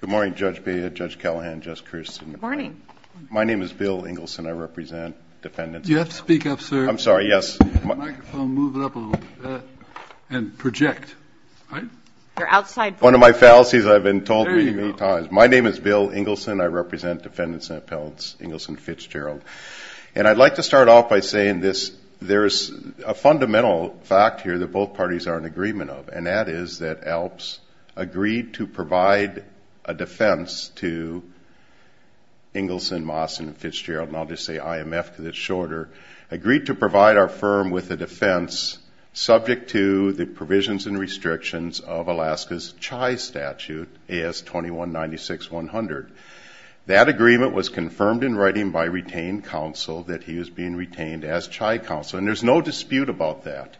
Good morning, Judge Beha, Judge Callahan, Judge Kirsten. Good morning. My name is Bill Ingaldson. I represent defendants and appellants. Do you have to speak up, sir? I'm sorry, yes. Move the microphone up a little bit and project. One of my fallacies I've been told many times. My name is Bill Ingaldson. I represent defendants and appellants. Ingaldson Fitzgerald. And I'd like to start off by saying there is a fundamental fact here that both parties are in agreement of, and that is that ALPS agreed to provide a defense to Ingaldson, Moss, and Fitzgerald, and I'll just say IMF because it's shorter, agreed to provide our firm with a defense subject to the provisions and restrictions of Alaska's CHI statute, AS-2196-100. That agreement was confirmed in writing by retained counsel that he was being retained as CHI counsel, and there's no dispute about that.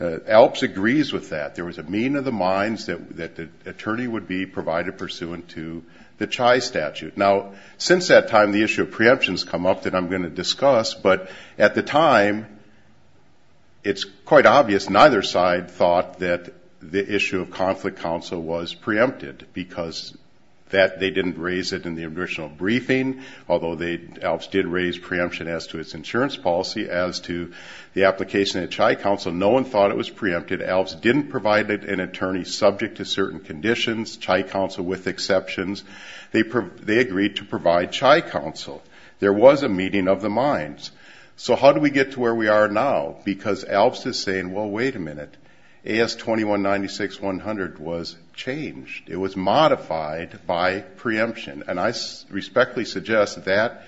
ALPS agrees with that. There was a meeting of the minds that the attorney would be provided pursuant to the CHI statute. Now, since that time, the issue of preemptions come up that I'm going to discuss, but at the time, it's quite obvious neither side thought that the issue of conflict counsel was preempted because they didn't raise it in the original briefing, although ALPS did raise preemption as to its insurance policy as to the application at CHI counsel. No one thought it was preempted. ALPS didn't provide an attorney subject to certain conditions, CHI counsel with exceptions. They agreed to provide CHI counsel. There was a meeting of the minds. So how do we get to where we are now? Because ALPS is saying, well, wait a minute, AS-2196-100 was changed. It was modified by preemption, and I respectfully suggest that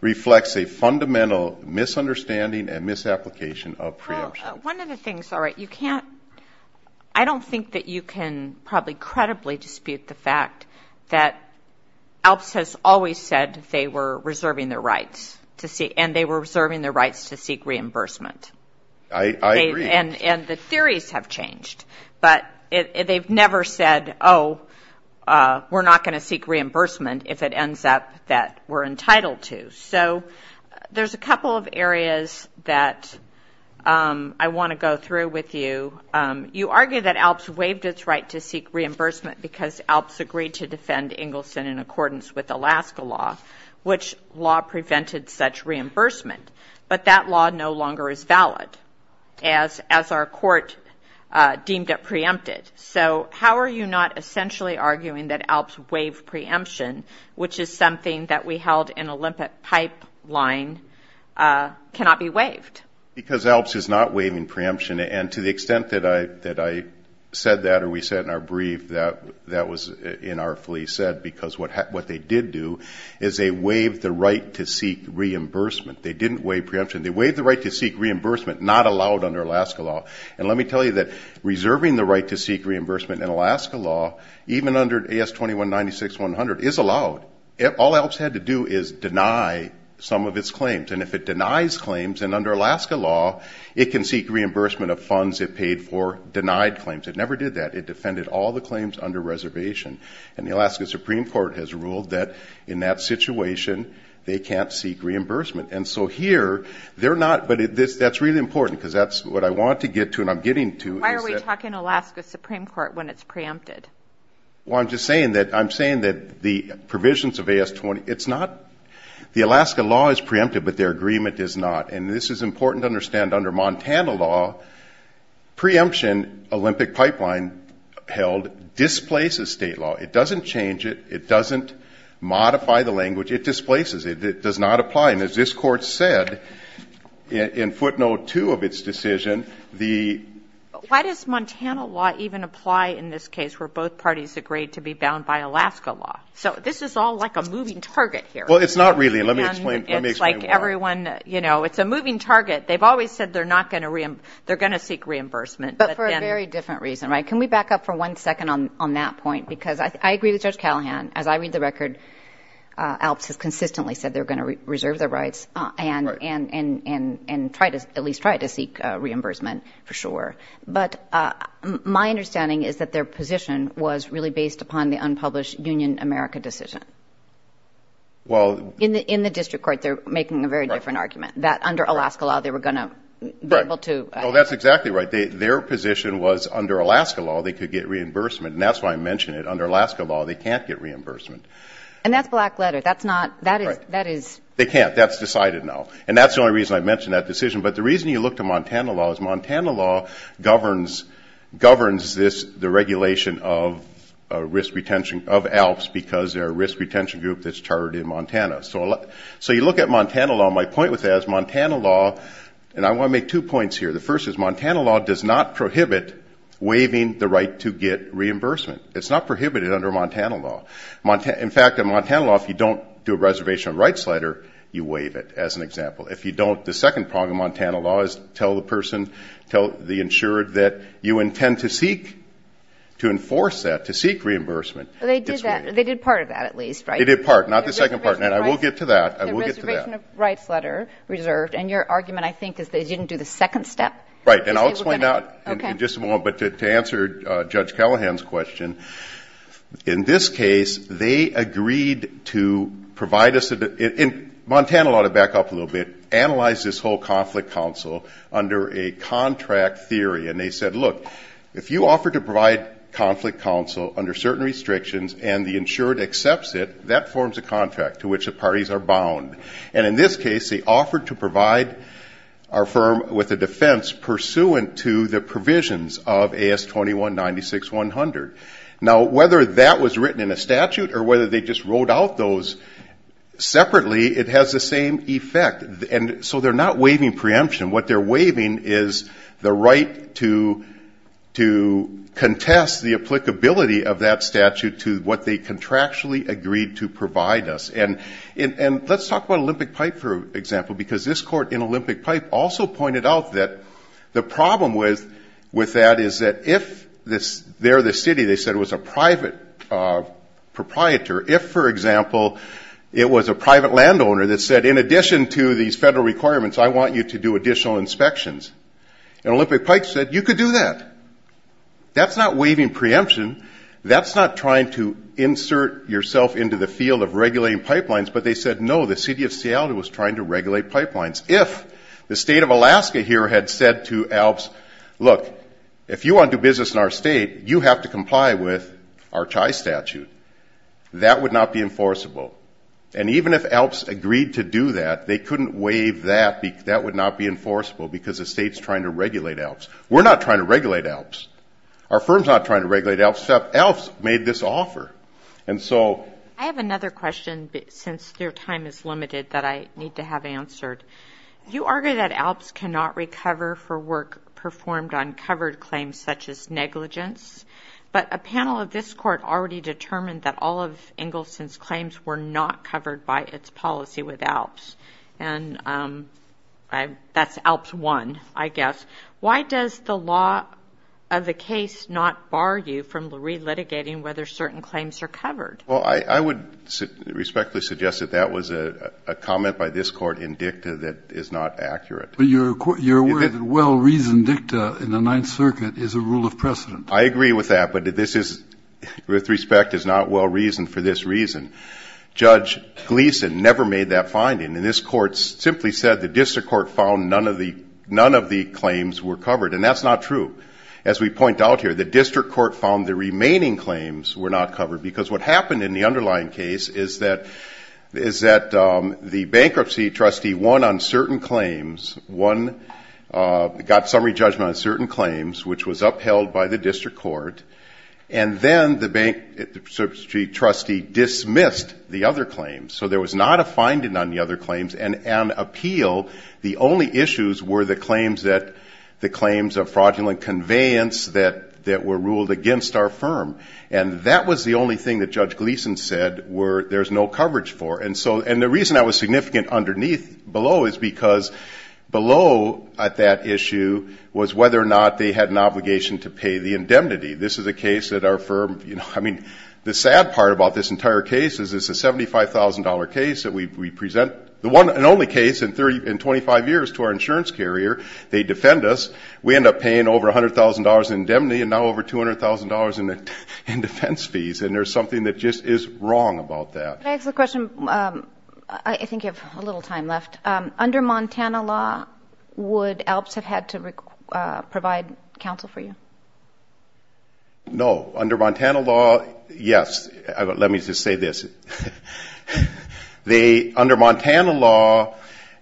reflects a fundamental misunderstanding and misapplication of preemption. Well, one of the things, all right, you can't, I don't think that you can probably credibly dispute the fact that ALPS has always said they were reserving their rights and they were reserving their rights to seek reimbursement. I agree. And the theories have changed. But they've never said, oh, we're not going to seek reimbursement if it ends up that we're entitled to. So there's a couple of areas that I want to go through with you. You argue that ALPS waived its right to seek reimbursement because ALPS agreed to defend Engelson in accordance with Alaska law, which law prevented such reimbursement. But that law no longer is valid, as our court deemed it preempted. So how are you not essentially arguing that ALPS waived preemption, which is something that we held in Olympic pipeline, cannot be waived? Because ALPS is not waiving preemption. And to the extent that I said that or we said in our brief that that was inartfully said, because what they did do is they waived the right to seek reimbursement. They didn't waive preemption. They waived the right to seek reimbursement, not allowed under Alaska law. And let me tell you that reserving the right to seek reimbursement in Alaska law, even under AS-2196-100, is allowed. All ALPS had to do is deny some of its claims. And if it denies claims, then under Alaska law it can seek reimbursement of funds it paid for denied claims. It never did that. It defended all the claims under reservation. And the Alaska Supreme Court has ruled that in that situation they can't seek reimbursement. And so here they're not. But that's really important because that's what I want to get to and I'm getting to. Why are we talking Alaska Supreme Court when it's preempted? Well, I'm just saying that the provisions of AS-2196-100, it's not. The Alaska law is preempted, but their agreement is not. And this is important to understand. Under Montana law, preemption Olympic pipeline held displaces state law. It doesn't change it. It doesn't modify the language. It displaces it. It does not apply. And as this Court said in footnote 2 of its decision, the ‑‑ Why does Montana law even apply in this case where both parties agreed to be bound by Alaska law? So this is all like a moving target here. Well, it's not really. Let me explain why. It's like everyone, you know, it's a moving target. They've always said they're not going to ‑‑ they're going to seek reimbursement. But for a very different reason. Can we back up for one second on that point? Because I agree with Judge Callahan. As I read the record, ALPS has consistently said they're going to reserve their rights and try to ‑‑ at least try to seek reimbursement for sure. But my understanding is that their position was really based upon the unpublished Union America decision. In the district court, they're making a very different argument, that under Alaska law they were going to be able to ‑‑ That's exactly right. Their position was under Alaska law they could get reimbursement. And that's why I mention it. And that's black letter. That's not ‑‑ that is ‑‑ They can't. That's decided now. And that's the only reason I mention that decision. But the reason you look to Montana law is Montana law governs this, the regulation of risk retention, of ALPS, because they're a risk retention group that's chartered in Montana. So you look at Montana law. My point with that is Montana law, and I want to make two points here. The first is Montana law does not prohibit waiving the right to get reimbursement. It's not prohibited under Montana law. In fact, in Montana law, if you don't do a reservation of rights letter, you waive it, as an example. If you don't, the second part of Montana law is tell the person, tell the insured that you intend to seek, to enforce that, to seek reimbursement. They did that. They did part of that at least, right? They did part. Not the second part. And I will get to that. The reservation of rights letter reserved. And your argument, I think, is they didn't do the second step. Right. And I'll explain that in just a moment. Okay. But to answer Judge Callahan's question, in this case, they agreed to provide us, and Montana law, to back up a little bit, analyzed this whole conflict counsel under a contract theory. And they said, look, if you offer to provide conflict counsel under certain restrictions, and the insured accepts it, that forms a contract to which the parties are bound. And in this case, they offered to provide our firm with a defense pursuant to the provisions of AS-2196-100. Now, whether that was written in a statute or whether they just wrote out those separately, it has the same effect. And so they're not waiving preemption. What they're waiving is the right to contest the applicability of that statute to what they contractually agreed to provide us. And let's talk about Olympic Pipe, for example, because this court in Olympic Pipe also pointed out that the problem with that is that if they're the city, they said it was a private proprietor, if, for example, it was a private landowner that said, in addition to these federal requirements, I want you to do additional inspections. And Olympic Pipe said, you could do that. That's not waiving preemption. That's not trying to insert yourself into the field of regulating pipelines. But they said, no, the city of Seattle was trying to regulate pipelines. If the state of Alaska here had said to ALPS, look, if you want to do business in our state, you have to comply with our CHI statute. That would not be enforceable. And even if ALPS agreed to do that, they couldn't waive that. That would not be enforceable because the state's trying to regulate ALPS. We're not trying to regulate ALPS. Our firm's not trying to regulate ALPS. ALPS made this offer. And so ‑‑ I have another question, since your time is limited, that I need to have answered. You argue that ALPS cannot recover for work performed on covered claims such as negligence. But a panel of this court already determined that all of Engelson's claims were not covered by its policy with ALPS. And that's ALPS 1, I guess. Why does the law of the case not bar you from relitigating whether certain claims are covered? Well, I would respectfully suggest that that was a comment by this court in dicta that is not accurate. But you're aware that well‑reasoned dicta in the Ninth Circuit is a rule of precedent. I agree with that. But this is, with respect, is not well‑reasoned for this reason. Judge Gleeson never made that finding. And this court simply said the district court found none of the claims were covered. And that's not true. As we point out here, the district court found the remaining claims were not covered. Because what happened in the underlying case is that the bankruptcy trustee won on certain claims, won ‑‑ got summary judgment on certain claims, which was upheld by the district court. And then the bankruptcy trustee dismissed the other claims. So there was not a finding on the other claims. And on appeal, the only issues were the claims that ‑‑ the claims of fraudulent conveyance that were ruled against our firm. And that was the only thing that Judge Gleeson said were there's no coverage for. And so ‑‑ and the reason I was significant underneath below is because below at that issue was whether or not they had an obligation to pay the indemnity. This is a case that our firm, you know, I mean, the sad part about this entire case is it's a $75,000 case that we present, the one and only case in 25 years to our insurance carrier. They defend us. We end up paying over $100,000 in indemnity and now over $200,000 in defense fees. And there's something that just is wrong about that. Can I ask a question? I think you have a little time left. Under Montana law, would ALPS have had to provide counsel for you? No. Under Montana law, yes. Let me just say this. Under Montana law,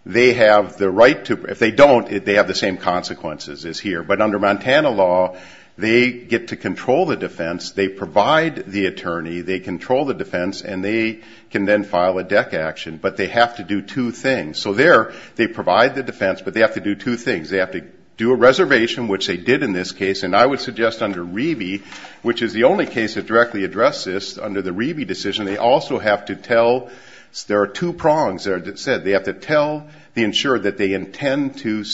they have the right to ‑‑ if they don't, they have the same consequences as here. But under Montana law, they get to control the defense. They provide the attorney. They control the defense. And they can then file a DEC action. But they have to do two things. So there, they provide the defense, but they have to do two things. They have to do a reservation, which they did in this case. And I would suggest under REBI, which is the only case that directly addressed this, under the REBI decision, they also have to tell ‑‑ there are two prongs that are said. They have to tell the insurer that they intend to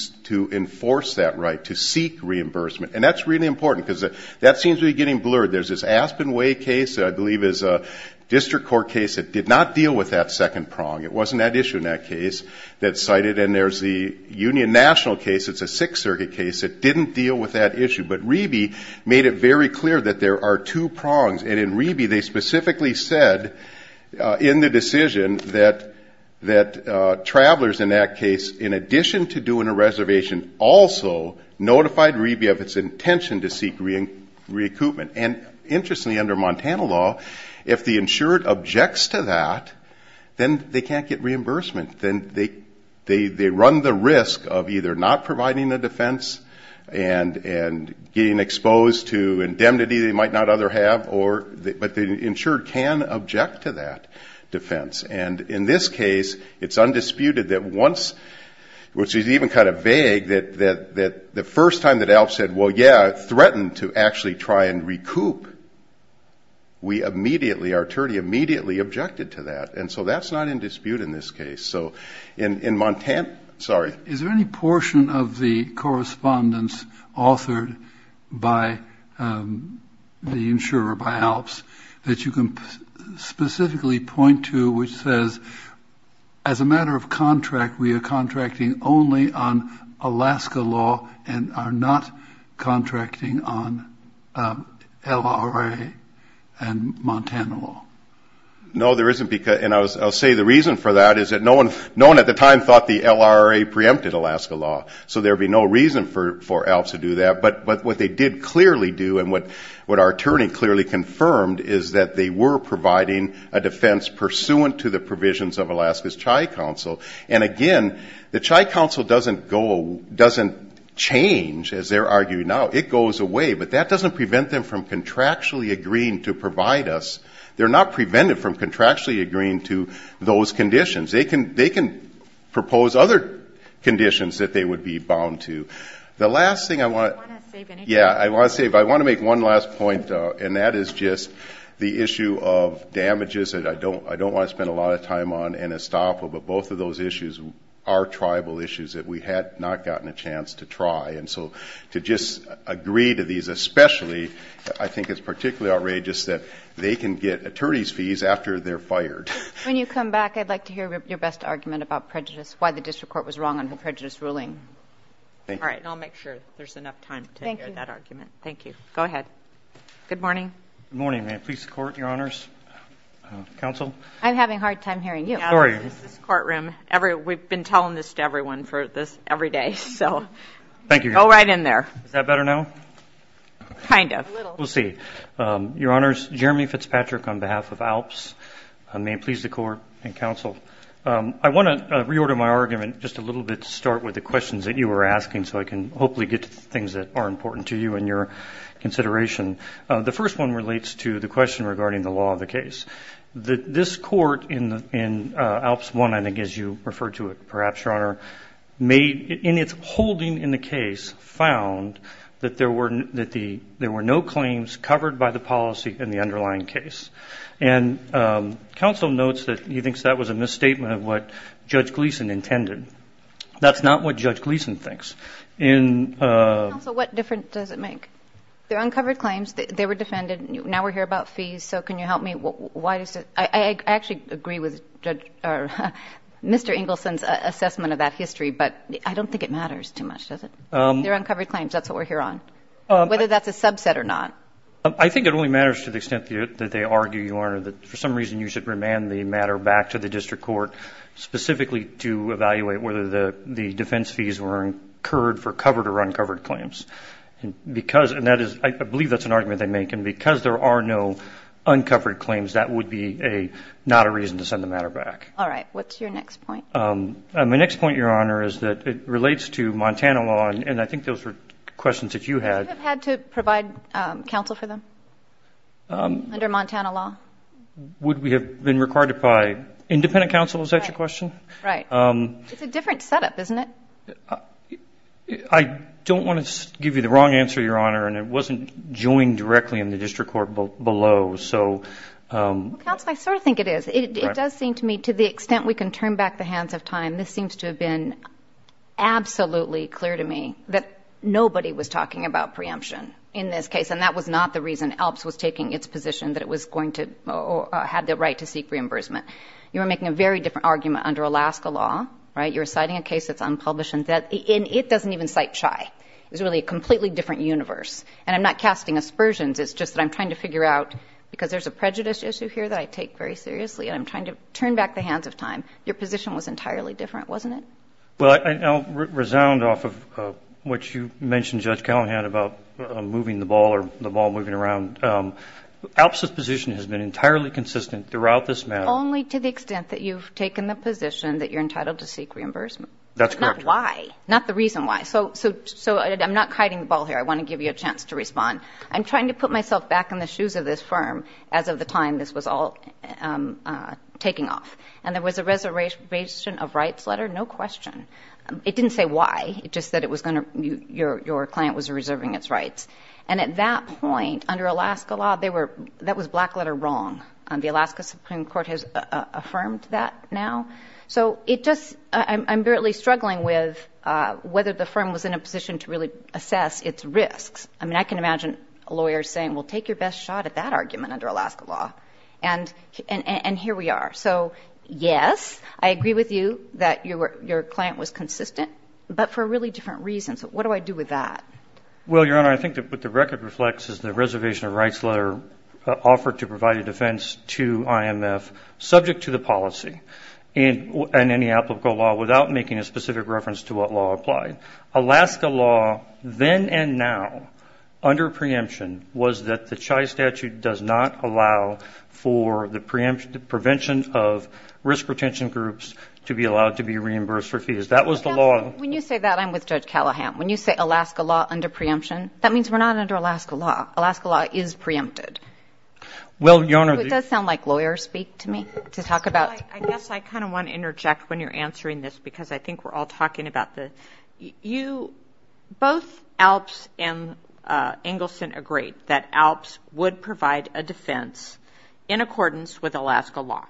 enforce that right, to seek reimbursement. And that's really important because that seems to be getting blurred. There's this Aspen Way case that I believe is a district court case that did not deal with that second prong. It wasn't that issue in that case that's cited. And there's the Union National case. It's a Sixth Circuit case that didn't deal with that issue. But REBI made it very clear that there are two prongs. And in REBI, they specifically said in the decision that travelers in that case, in addition to doing a reservation, also notified REBI of its intention to seek recoupment. And interestingly, under Montana law, if the insurer objects to that, then they can't get reimbursement. Then they run the risk of either not providing a defense and getting exposed to indemnity they might not other have, but the insurer can object to that defense. And in this case, it's undisputed that once, which is even kind of vague, that the first time that ALF said, well, yeah, threaten to actually try and recoup, we immediately, our attorney, immediately objected to that. And so that's not in dispute in this case. Is there any portion of the correspondence authored by the insurer, by ALPS, that you can specifically point to which says, as a matter of contract, we are contracting only on Alaska law and are not contracting on LRA and Montana law? No, there isn't. And I'll say the reason for that is that no one at the time thought the LRA preempted Alaska law. So there would be no reason for ALPS to do that. But what they did clearly do and what our attorney clearly confirmed is that they were providing a defense pursuant to the provisions of Alaska's CHI Council. And again, the CHI Council doesn't change, as they're arguing now. It goes away. But that doesn't prevent them from contractually agreeing to provide us. They're not prevented from contractually agreeing to those conditions. They can propose other conditions that they would be bound to. The last thing I want to say, if I want to make one last point, and that is just the issue of damages that I don't want to spend a lot of time on in Estoppo, but both of those issues are tribal issues that we had not gotten a chance to try. And so to just agree to these especially, I think it's particularly outrageous that they can get attorney's fees after they're fired. When you come back, I'd like to hear your best argument about prejudice, why the district court was wrong on the prejudice ruling. Thank you. All right. And I'll make sure there's enough time to hear that argument. Thank you. Go ahead. Good morning. Good morning. May it please the Court, Your Honors. Counsel. I'm having a hard time hearing you. Sorry. This courtroom, we've been telling this to everyone for this every day, so. Thank you. Go right in there. Is that better now? Kind of. A little. We'll see. Your Honors, Jeremy Fitzpatrick on behalf of ALPS. May it please the Court and Counsel. I want to reorder my argument just a little bit to start with the questions that you were asking so I can hopefully get to the things that are important to you and your consideration. The first one relates to the question regarding the law of the case. This court in ALPS 1, I think as you referred to it perhaps, Your Honor, in its holding in the case found that there were no claims covered by the policy in the underlying case. And Counsel notes that he thinks that was a misstatement of what Judge Gleeson intended. That's not what Judge Gleeson thinks. Counsel, what difference does it make? They're uncovered claims. They were defended. Now we're here about fees. So can you help me? I actually agree with Mr. Engelson's assessment of that history, but I don't think it matters too much, does it? They're uncovered claims. That's what we're here on, whether that's a subset or not. I think it only matters to the extent that they argue, Your Honor, that for some reason you should remand the matter back to the district court specifically to evaluate whether the defense fees were incurred for covered or uncovered claims. I believe that's an argument they make. And because there are no uncovered claims, that would be not a reason to send the matter back. All right. What's your next point? My next point, Your Honor, is that it relates to Montana law, and I think those were questions that you had. Would you have had to provide counsel for them under Montana law? Would we have been required to provide independent counsel? Is that your question? Right. It's a different setup, isn't it? I don't want to give you the wrong answer, Your Honor, and it wasn't joined directly in the district court below. Counsel, I sort of think it is. It does seem to me, to the extent we can turn back the hands of time, this seems to have been absolutely clear to me that nobody was talking about preemption in this case, and that was not the reason ELPS was taking its position that it was going to or had the right to seek reimbursement. You were making a very different argument under Alaska law, right? You're citing a case that's unpublished, and it doesn't even cite CHI. It was really a completely different universe, and I'm not casting aspersions. It's just that I'm trying to figure out, because there's a prejudice issue here that I take very seriously, and I'm trying to turn back the hands of time. Your position was entirely different, wasn't it? Well, I'll resound off of what you mentioned, Judge Callahan, about moving the ball or the ball moving around. ELPS's position has been entirely consistent throughout this matter. Only to the extent that you've taken the position that you're entitled to seek reimbursement. That's correct. But not why, not the reason why. So I'm not kiting the ball here. I want to give you a chance to respond. I'm trying to put myself back in the shoes of this firm as of the time this was all taking off, and there was a reservation of rights letter, no question. It didn't say why. It just said it was going to be your client was reserving its rights. And at that point, under Alaska law, that was black letter wrong. The Alaska Supreme Court has affirmed that now. So I'm really struggling with whether the firm was in a position to really assess its risks. I mean, I can imagine a lawyer saying, well, take your best shot at that argument under Alaska law. And here we are. So, yes, I agree with you that your client was consistent, but for really different reasons. What do I do with that? Well, Your Honor, I think what the record reflects is the reservation of rights letter offered to provide a defense to IMF subject to the policy and any applicable law without making a specific reference to what law applied. Alaska law, then and now, under preemption, was that the CHI statute does not allow for the prevention of risk retention groups to be allowed to be reimbursed for fees. That was the law. When you say that, I'm with Judge Callahan. When you say Alaska law under preemption, that means we're not under Alaska law. Alaska law is preempted. Well, Your Honor. It does sound like lawyers speak to me to talk about. I guess I kind of want to interject when you're answering this because I think we're all talking about this. Both ALPS and Engelson agreed that ALPS would provide a defense in accordance with Alaska law.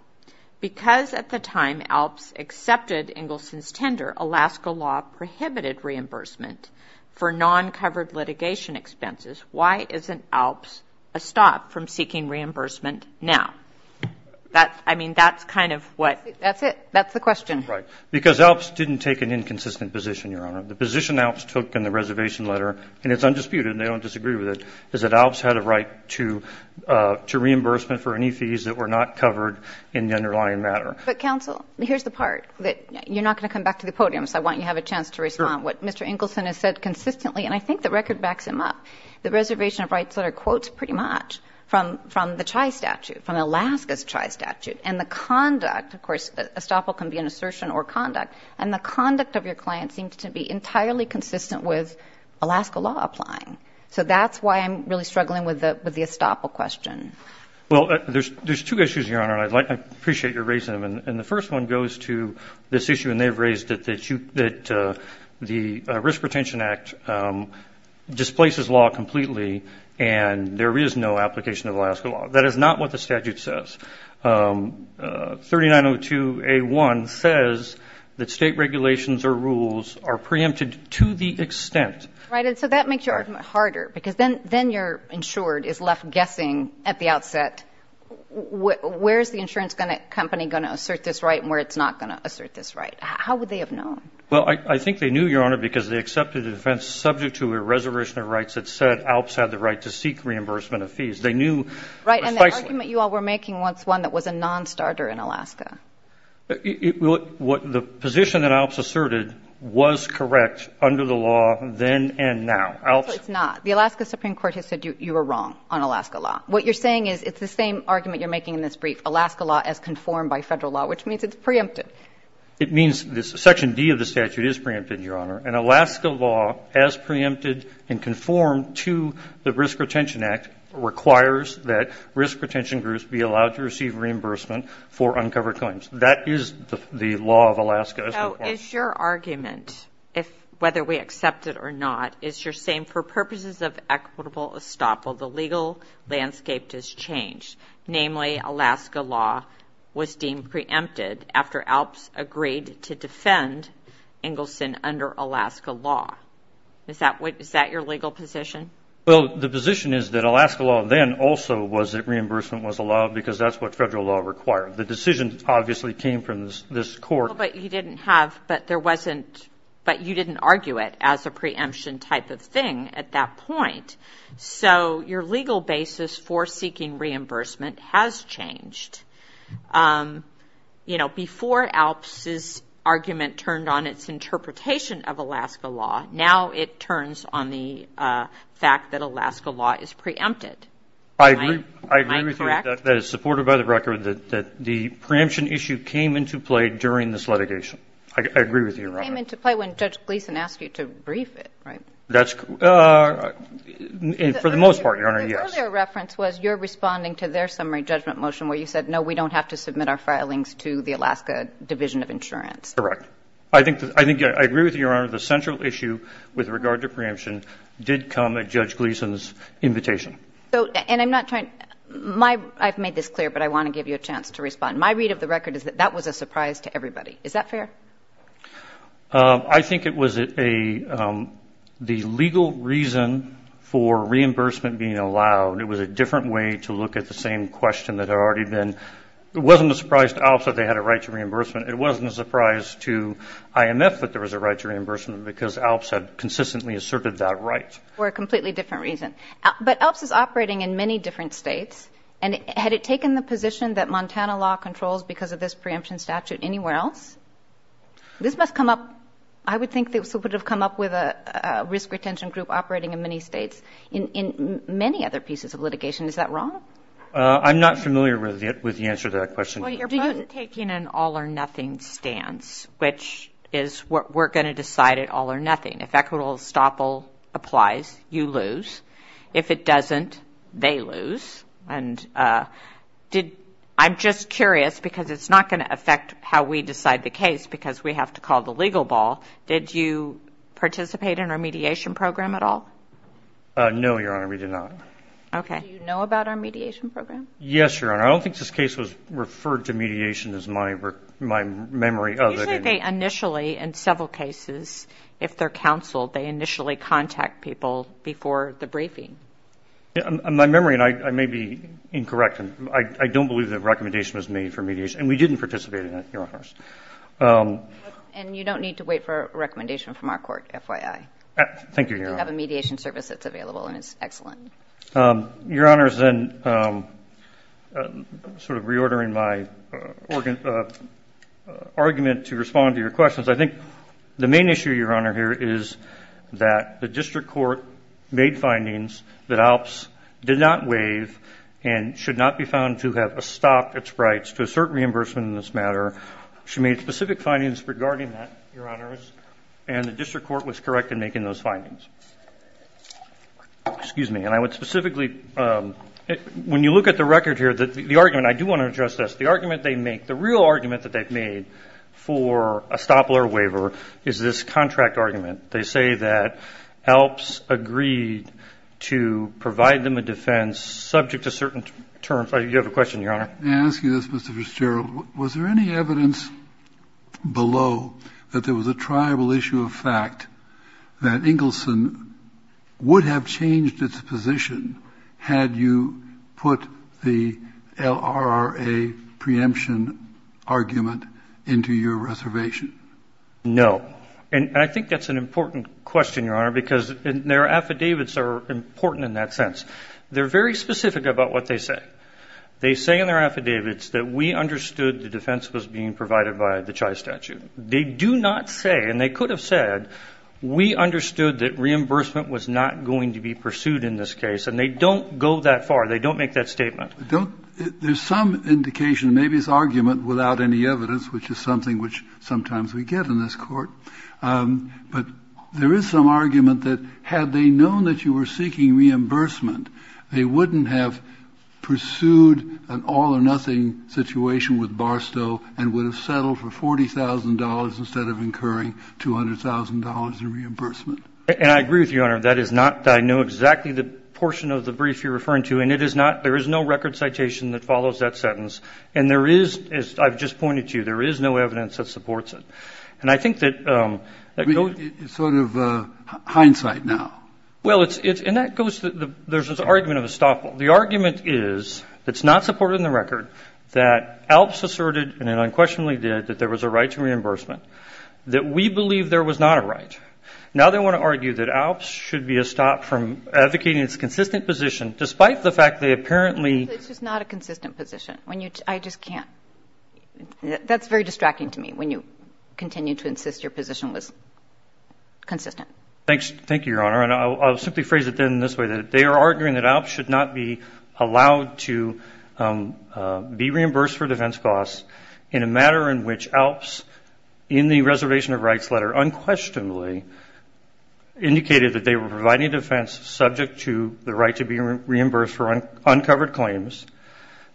Because at the time ALPS accepted Engelson's tender, Alaska law prohibited reimbursement for non-covered litigation expenses. Why isn't ALPS a stop from seeking reimbursement now? I mean, that's kind of what — That's it. That's the question. Because ALPS didn't take an inconsistent position, Your Honor. The position ALPS took in the reservation letter, and it's undisputed and they don't disagree with it, is that ALPS had a right to reimbursement for any fees that were not covered in the underlying matter. But, counsel, here's the part. You're not going to come back to the podium, so I want you to have a chance to respond. Sure. What Mr. Engelson has said consistently, and I think the record backs him up, the reservation of rights letter quotes pretty much from the CHI statute, from Alaska's CHI statute. And the conduct, of course, estoppel can be an assertion or conduct, and the conduct of your client seems to be entirely consistent with Alaska law applying. So that's why I'm really struggling with the estoppel question. Well, there's two issues, Your Honor, and I appreciate your raising them. And the first one goes to this issue, and they've raised it, that the Risk Retention Act displaces law completely and there is no application of Alaska law. That is not what the statute says. 3902A1 says that state regulations or rules are preempted to the extent. Right. And so that makes your argument harder because then your insured is left guessing at the outset, where is the insurance company going to assert this right and where it's not going to assert this right? How would they have known? Well, I think they knew, Your Honor, because they accepted the defense subject to a reservation of rights that said ALPS had the right to seek reimbursement of fees. They knew precisely. Right. And the argument you all were making was one that was a nonstarter in Alaska. Well, the position that ALPS asserted was correct under the law then and now. ALPS. No, it's not. The Alaska Supreme Court has said you were wrong on Alaska law. What you're saying is it's the same argument you're making in this brief, Alaska law as conformed by Federal law, which means it's preempted. It means Section D of the statute is preempted, Your Honor, and Alaska law as preempted and conformed to the Risk Retention Act requires that risk retention groups be allowed to receive reimbursement for uncovered claims. That is the law of Alaska. So is your argument, whether we accept it or not, is you're saying for purposes of equitable estoppel, the legal landscape has changed, namely Alaska law was deemed preempted after ALPS agreed to defend Engelson under Alaska law. Is that your legal position? Well, the position is that Alaska law then also was that reimbursement was allowed because that's what Federal law required. The decision obviously came from this court. But you didn't argue it as a preemption type of thing at that point. So your legal basis for seeking reimbursement has changed. You know, before ALPS's argument turned on its interpretation of Alaska law, now it turns on the fact that Alaska law is preempted. Am I correct? I agree with you that it's supported by the record that the preemption issue came into play during this litigation. I agree with you, Your Honor. It came into play when Judge Gleeson asked you to brief it, right? That's correct. For the most part, Your Honor, yes. The earlier reference was you're responding to their summary judgment motion where you said, no, we don't have to submit our filings to the Alaska Division of Insurance. Correct. I think I agree with you, Your Honor, the central issue with regard to preemption did come at Judge Gleeson's invitation. And I'm not trying to – I've made this clear, but I want to give you a chance to respond. My read of the record is that that was a surprise to everybody. Is that fair? I think it was a – the legal reason for reimbursement being allowed, it was a different way to look at the same question that had already been – it wasn't a surprise to ALPS that they had a right to reimbursement. It wasn't a surprise to IMF that there was a right to reimbursement because ALPS had consistently asserted that right. For a completely different reason. But ALPS is operating in many different states, and had it taken the position that Montana law controls because of this preemption statute anywhere else, this must come up – I would think this would have come up with a risk retention group operating in many states in many other pieces of litigation. Is that wrong? I'm not familiar with the answer to that question. Well, you're both taking an all-or-nothing stance, which is we're going to decide it all-or-nothing. If equitable estoppel applies, you lose. If it doesn't, they lose. And did – I'm just curious because it's not going to affect how we decide the case because we have to call the legal ball. Did you participate in our mediation program at all? No, Your Honor, we did not. Do you know about our mediation program? Yes, Your Honor. I don't think this case was referred to mediation as my memory of it. Usually they initially, in several cases, if they're counseled, they initially contact people before the briefing. My memory, and I may be incorrect, I don't believe that a recommendation was made for mediation. And we didn't participate in it, Your Honors. And you don't need to wait for a recommendation from our court, FYI. Thank you, Your Honor. We do have a mediation service that's available, and it's excellent. Your Honors, and sort of reordering my argument to respond to your questions, I think the main issue, Your Honor, here is that the district court made findings that Alps did not waive and should not be found to have estopped its rights to a certain reimbursement in this matter. She made specific findings regarding that, Your Honors, and the district court was correct in making those findings. Excuse me. And I would specifically, when you look at the record here, the argument, I do want to address this, the argument they make, the real argument that they've made for estoppel or waiver is this contract argument. They say that Alps agreed to provide them a defense subject to certain terms. You have a question, Your Honor. May I ask you this, Mr. Fitzgerald? Was there any evidence below that there was a tribal issue of fact that Engelson would have changed its position had you put the LRRA preemption argument into your reservation? No. And I think that's an important question, Your Honor, because their affidavits are important in that sense. They're very specific about what they say. They say in their affidavits that we understood the defense was being provided by the Chai statute. They do not say, and they could have said, we understood that reimbursement was not going to be pursued in this case, and they don't go that far. They don't make that statement. There's some indication, maybe it's argument without any evidence, which is something which sometimes we get in this court, but there is some argument that had they known that you were seeking reimbursement, they wouldn't have pursued an all-or-nothing situation with Barstow and would have settled for $40,000 instead of incurring $200,000 in reimbursement. And I agree with you, Your Honor. That is not, I know exactly the portion of the brief you're referring to, and it is not, there is no record citation that follows that sentence. And there is, as I've just pointed to, there is no evidence that supports it. And I think that goes. It's sort of hindsight now. Well, it's, and that goes, there's this argument of a stop. The argument is it's not supported in the record that ALPS asserted, and it unquestionably did, that there was a right to reimbursement, that we believe there was not a right. Now they want to argue that ALPS should be stopped from advocating its consistent position, despite the fact they apparently. It's just not a consistent position. I just can't, that's very distracting to me, when you continue to insist your position was consistent. Thank you, Your Honor. And I'll simply phrase it then in this way, that they are arguing that ALPS should not be allowed to be reimbursed for defense costs in a matter in which ALPS, in the Reservation of Rights letter unquestionably indicated that they were providing defense subject to the right to be reimbursed for uncovered claims.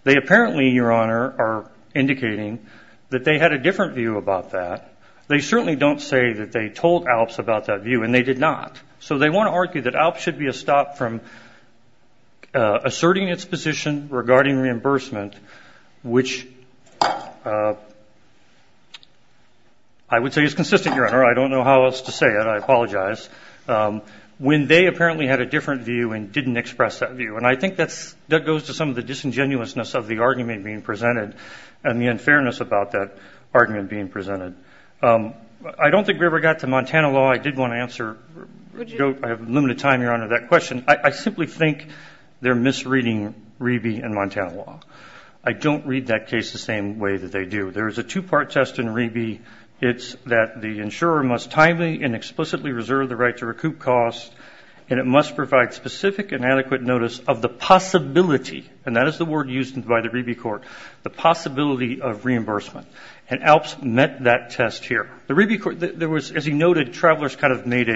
They apparently, Your Honor, are indicating that they had a different view about that. They certainly don't say that they told ALPS about that view, and they did not. So they want to argue that ALPS should be stopped from asserting its position regarding reimbursement, which I would say is consistent, Your Honor. I don't know how else to say it. I apologize. When they apparently had a different view and didn't express that view. And I think that goes to some of the disingenuousness of the argument being I don't think we ever got to Montana law. I did want to answer. I have limited time, Your Honor, that question. I simply think they're misreading Rebe and Montana law. I don't read that case the same way that they do. There is a two-part test in Rebe. It's that the insurer must timely and explicitly reserve the right to recoup costs, and it must provide specific and adequate notice of the possibility, and that is the word used by the Rebe court, the possibility of reimbursement. And ALPS met that test here. The Rebe court, there was, as he noted, travelers kind of made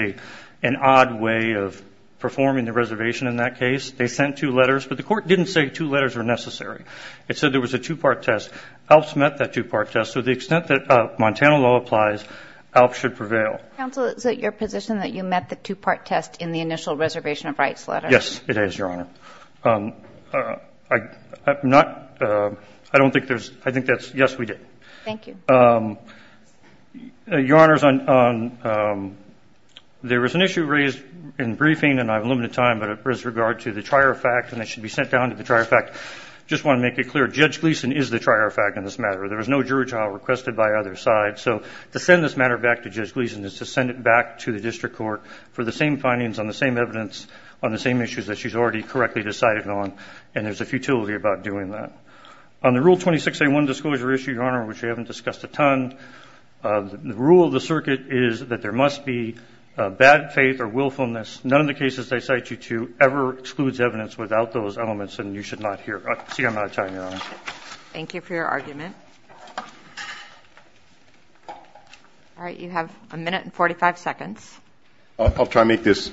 an odd way of performing the reservation in that case. They sent two letters, but the court didn't say two letters were necessary. It said there was a two-part test. ALPS met that two-part test. So to the extent that Montana law applies, ALPS should prevail. Counsel, is it your position that you met the two-part test in the initial reservation of rights letter? Yes, it is, Your Honor. I don't think there's – I think that's – yes, we did. Thank you. Your Honor, there was an issue raised in the briefing, and I have limited time, but it was with regard to the trier fact, and it should be sent down to the trier fact. I just want to make it clear, Judge Gleeson is the trier fact in this matter. There was no jury trial requested by either side. So to send this matter back to Judge Gleeson is to send it back to the district court for the same findings on the same evidence on the same issues that she's already correctly decided on, and there's a futility about doing that. On the Rule 26A1 disclosure issue, Your Honor, which we haven't discussed a ton, the rule of the circuit is that there must be bad faith or willfulness. None of the cases they cite you to ever excludes evidence without those elements, and you should not hear – see, I'm out of time, Your Honor. Thank you for your argument. All right, you have a minute and 45 seconds. I'll try to make this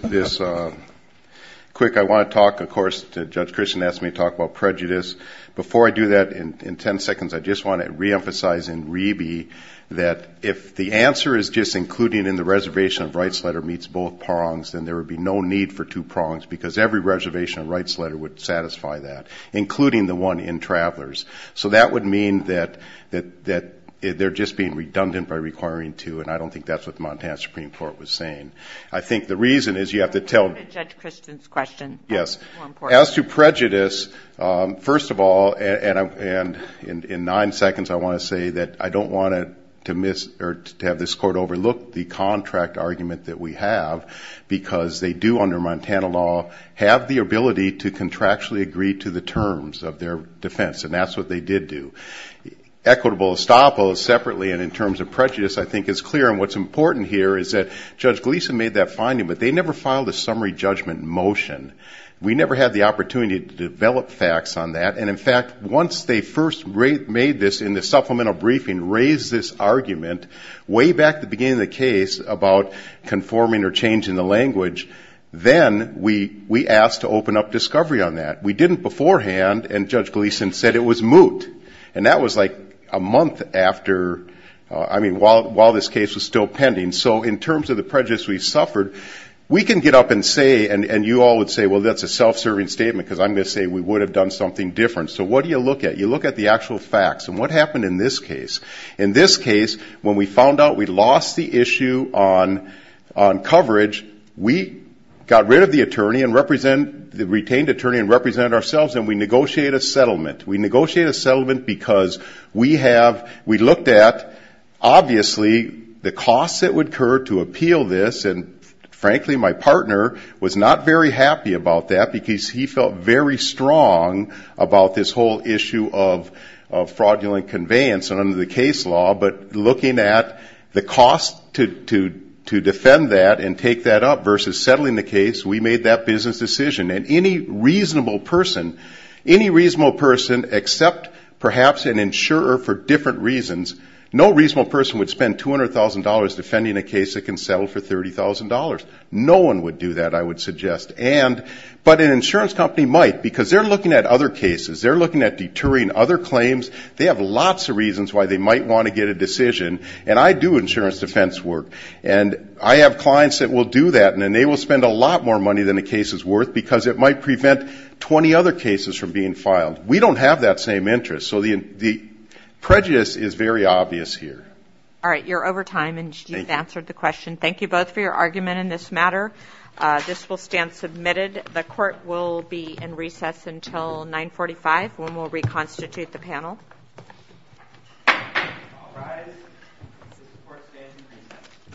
quick. I want to talk, of course, Judge Christian asked me to talk about prejudice. Before I do that, in 10 seconds, I just want to reemphasize in Rebe that if the answer is just including in the reservation of rights letter meets both prongs, then there would be no need for two prongs because every reservation of rights letter would satisfy that, including the one in travelers. So that would mean that they're just being redundant by requiring two, and I don't think that's what the Montana Supreme Court was saying. I think the reason is you have to tell – Judge Christian's question is more important. As to prejudice, first of all, and in nine seconds, I want to say that I don't want to miss or to have this Court overlook the contract argument that we have because they do, under Montana law, have the ability to contractually agree to the terms of their defense, and that's what they did do. Equitable estoppels separately and in terms of prejudice I think is clear, and what's important here is that Judge Gleeson made that finding, but they never filed a summary judgment motion. We never had the opportunity to develop facts on that, and in fact, once they first made this in the supplemental briefing, raised this argument, way back at the beginning of the case about conforming or changing the language, then we asked to open up discovery on that. We didn't beforehand, and Judge Gleeson said it was moot, and that was like a month after, I mean, while this case was still pending. So in terms of the prejudice we suffered, we can get up and say, and you all would say, well, that's a self-serving statement because I'm going to say we would have done something different. So what do you look at? You look at the actual facts, and what happened in this case? In this case, when we found out we'd lost the issue on coverage, we got rid of the attorney, the retained attorney, and represented ourselves, and we negotiated a settlement. We negotiated a settlement because we looked at, obviously, the costs that would occur to appeal this, and frankly my partner was not very happy about that because he felt very strong about this whole issue of fraudulent conveyance under the case law, but looking at the cost to defend that and take that up versus settling the case, we made that business decision. And any reasonable person, any reasonable person except perhaps an insurer for different reasons, no reasonable person would spend $200,000 defending a case that can settle for $30,000. No one would do that, I would suggest. But an insurance company might because they're looking at other cases. They're looking at deterring other claims. They have lots of reasons why they might want to get a decision, and I do insurance defense work, and I have clients that will do that, and they will spend a lot more money than the case is worth because it might prevent 20 other cases from being filed. We don't have that same interest, so the prejudice is very obvious here. All right, you're over time, and you've answered the question. Thank you both for your argument in this matter. This will stand submitted. The court will be in recess until 9.45 when we'll reconstitute the panel. All rise. The court stands in recess.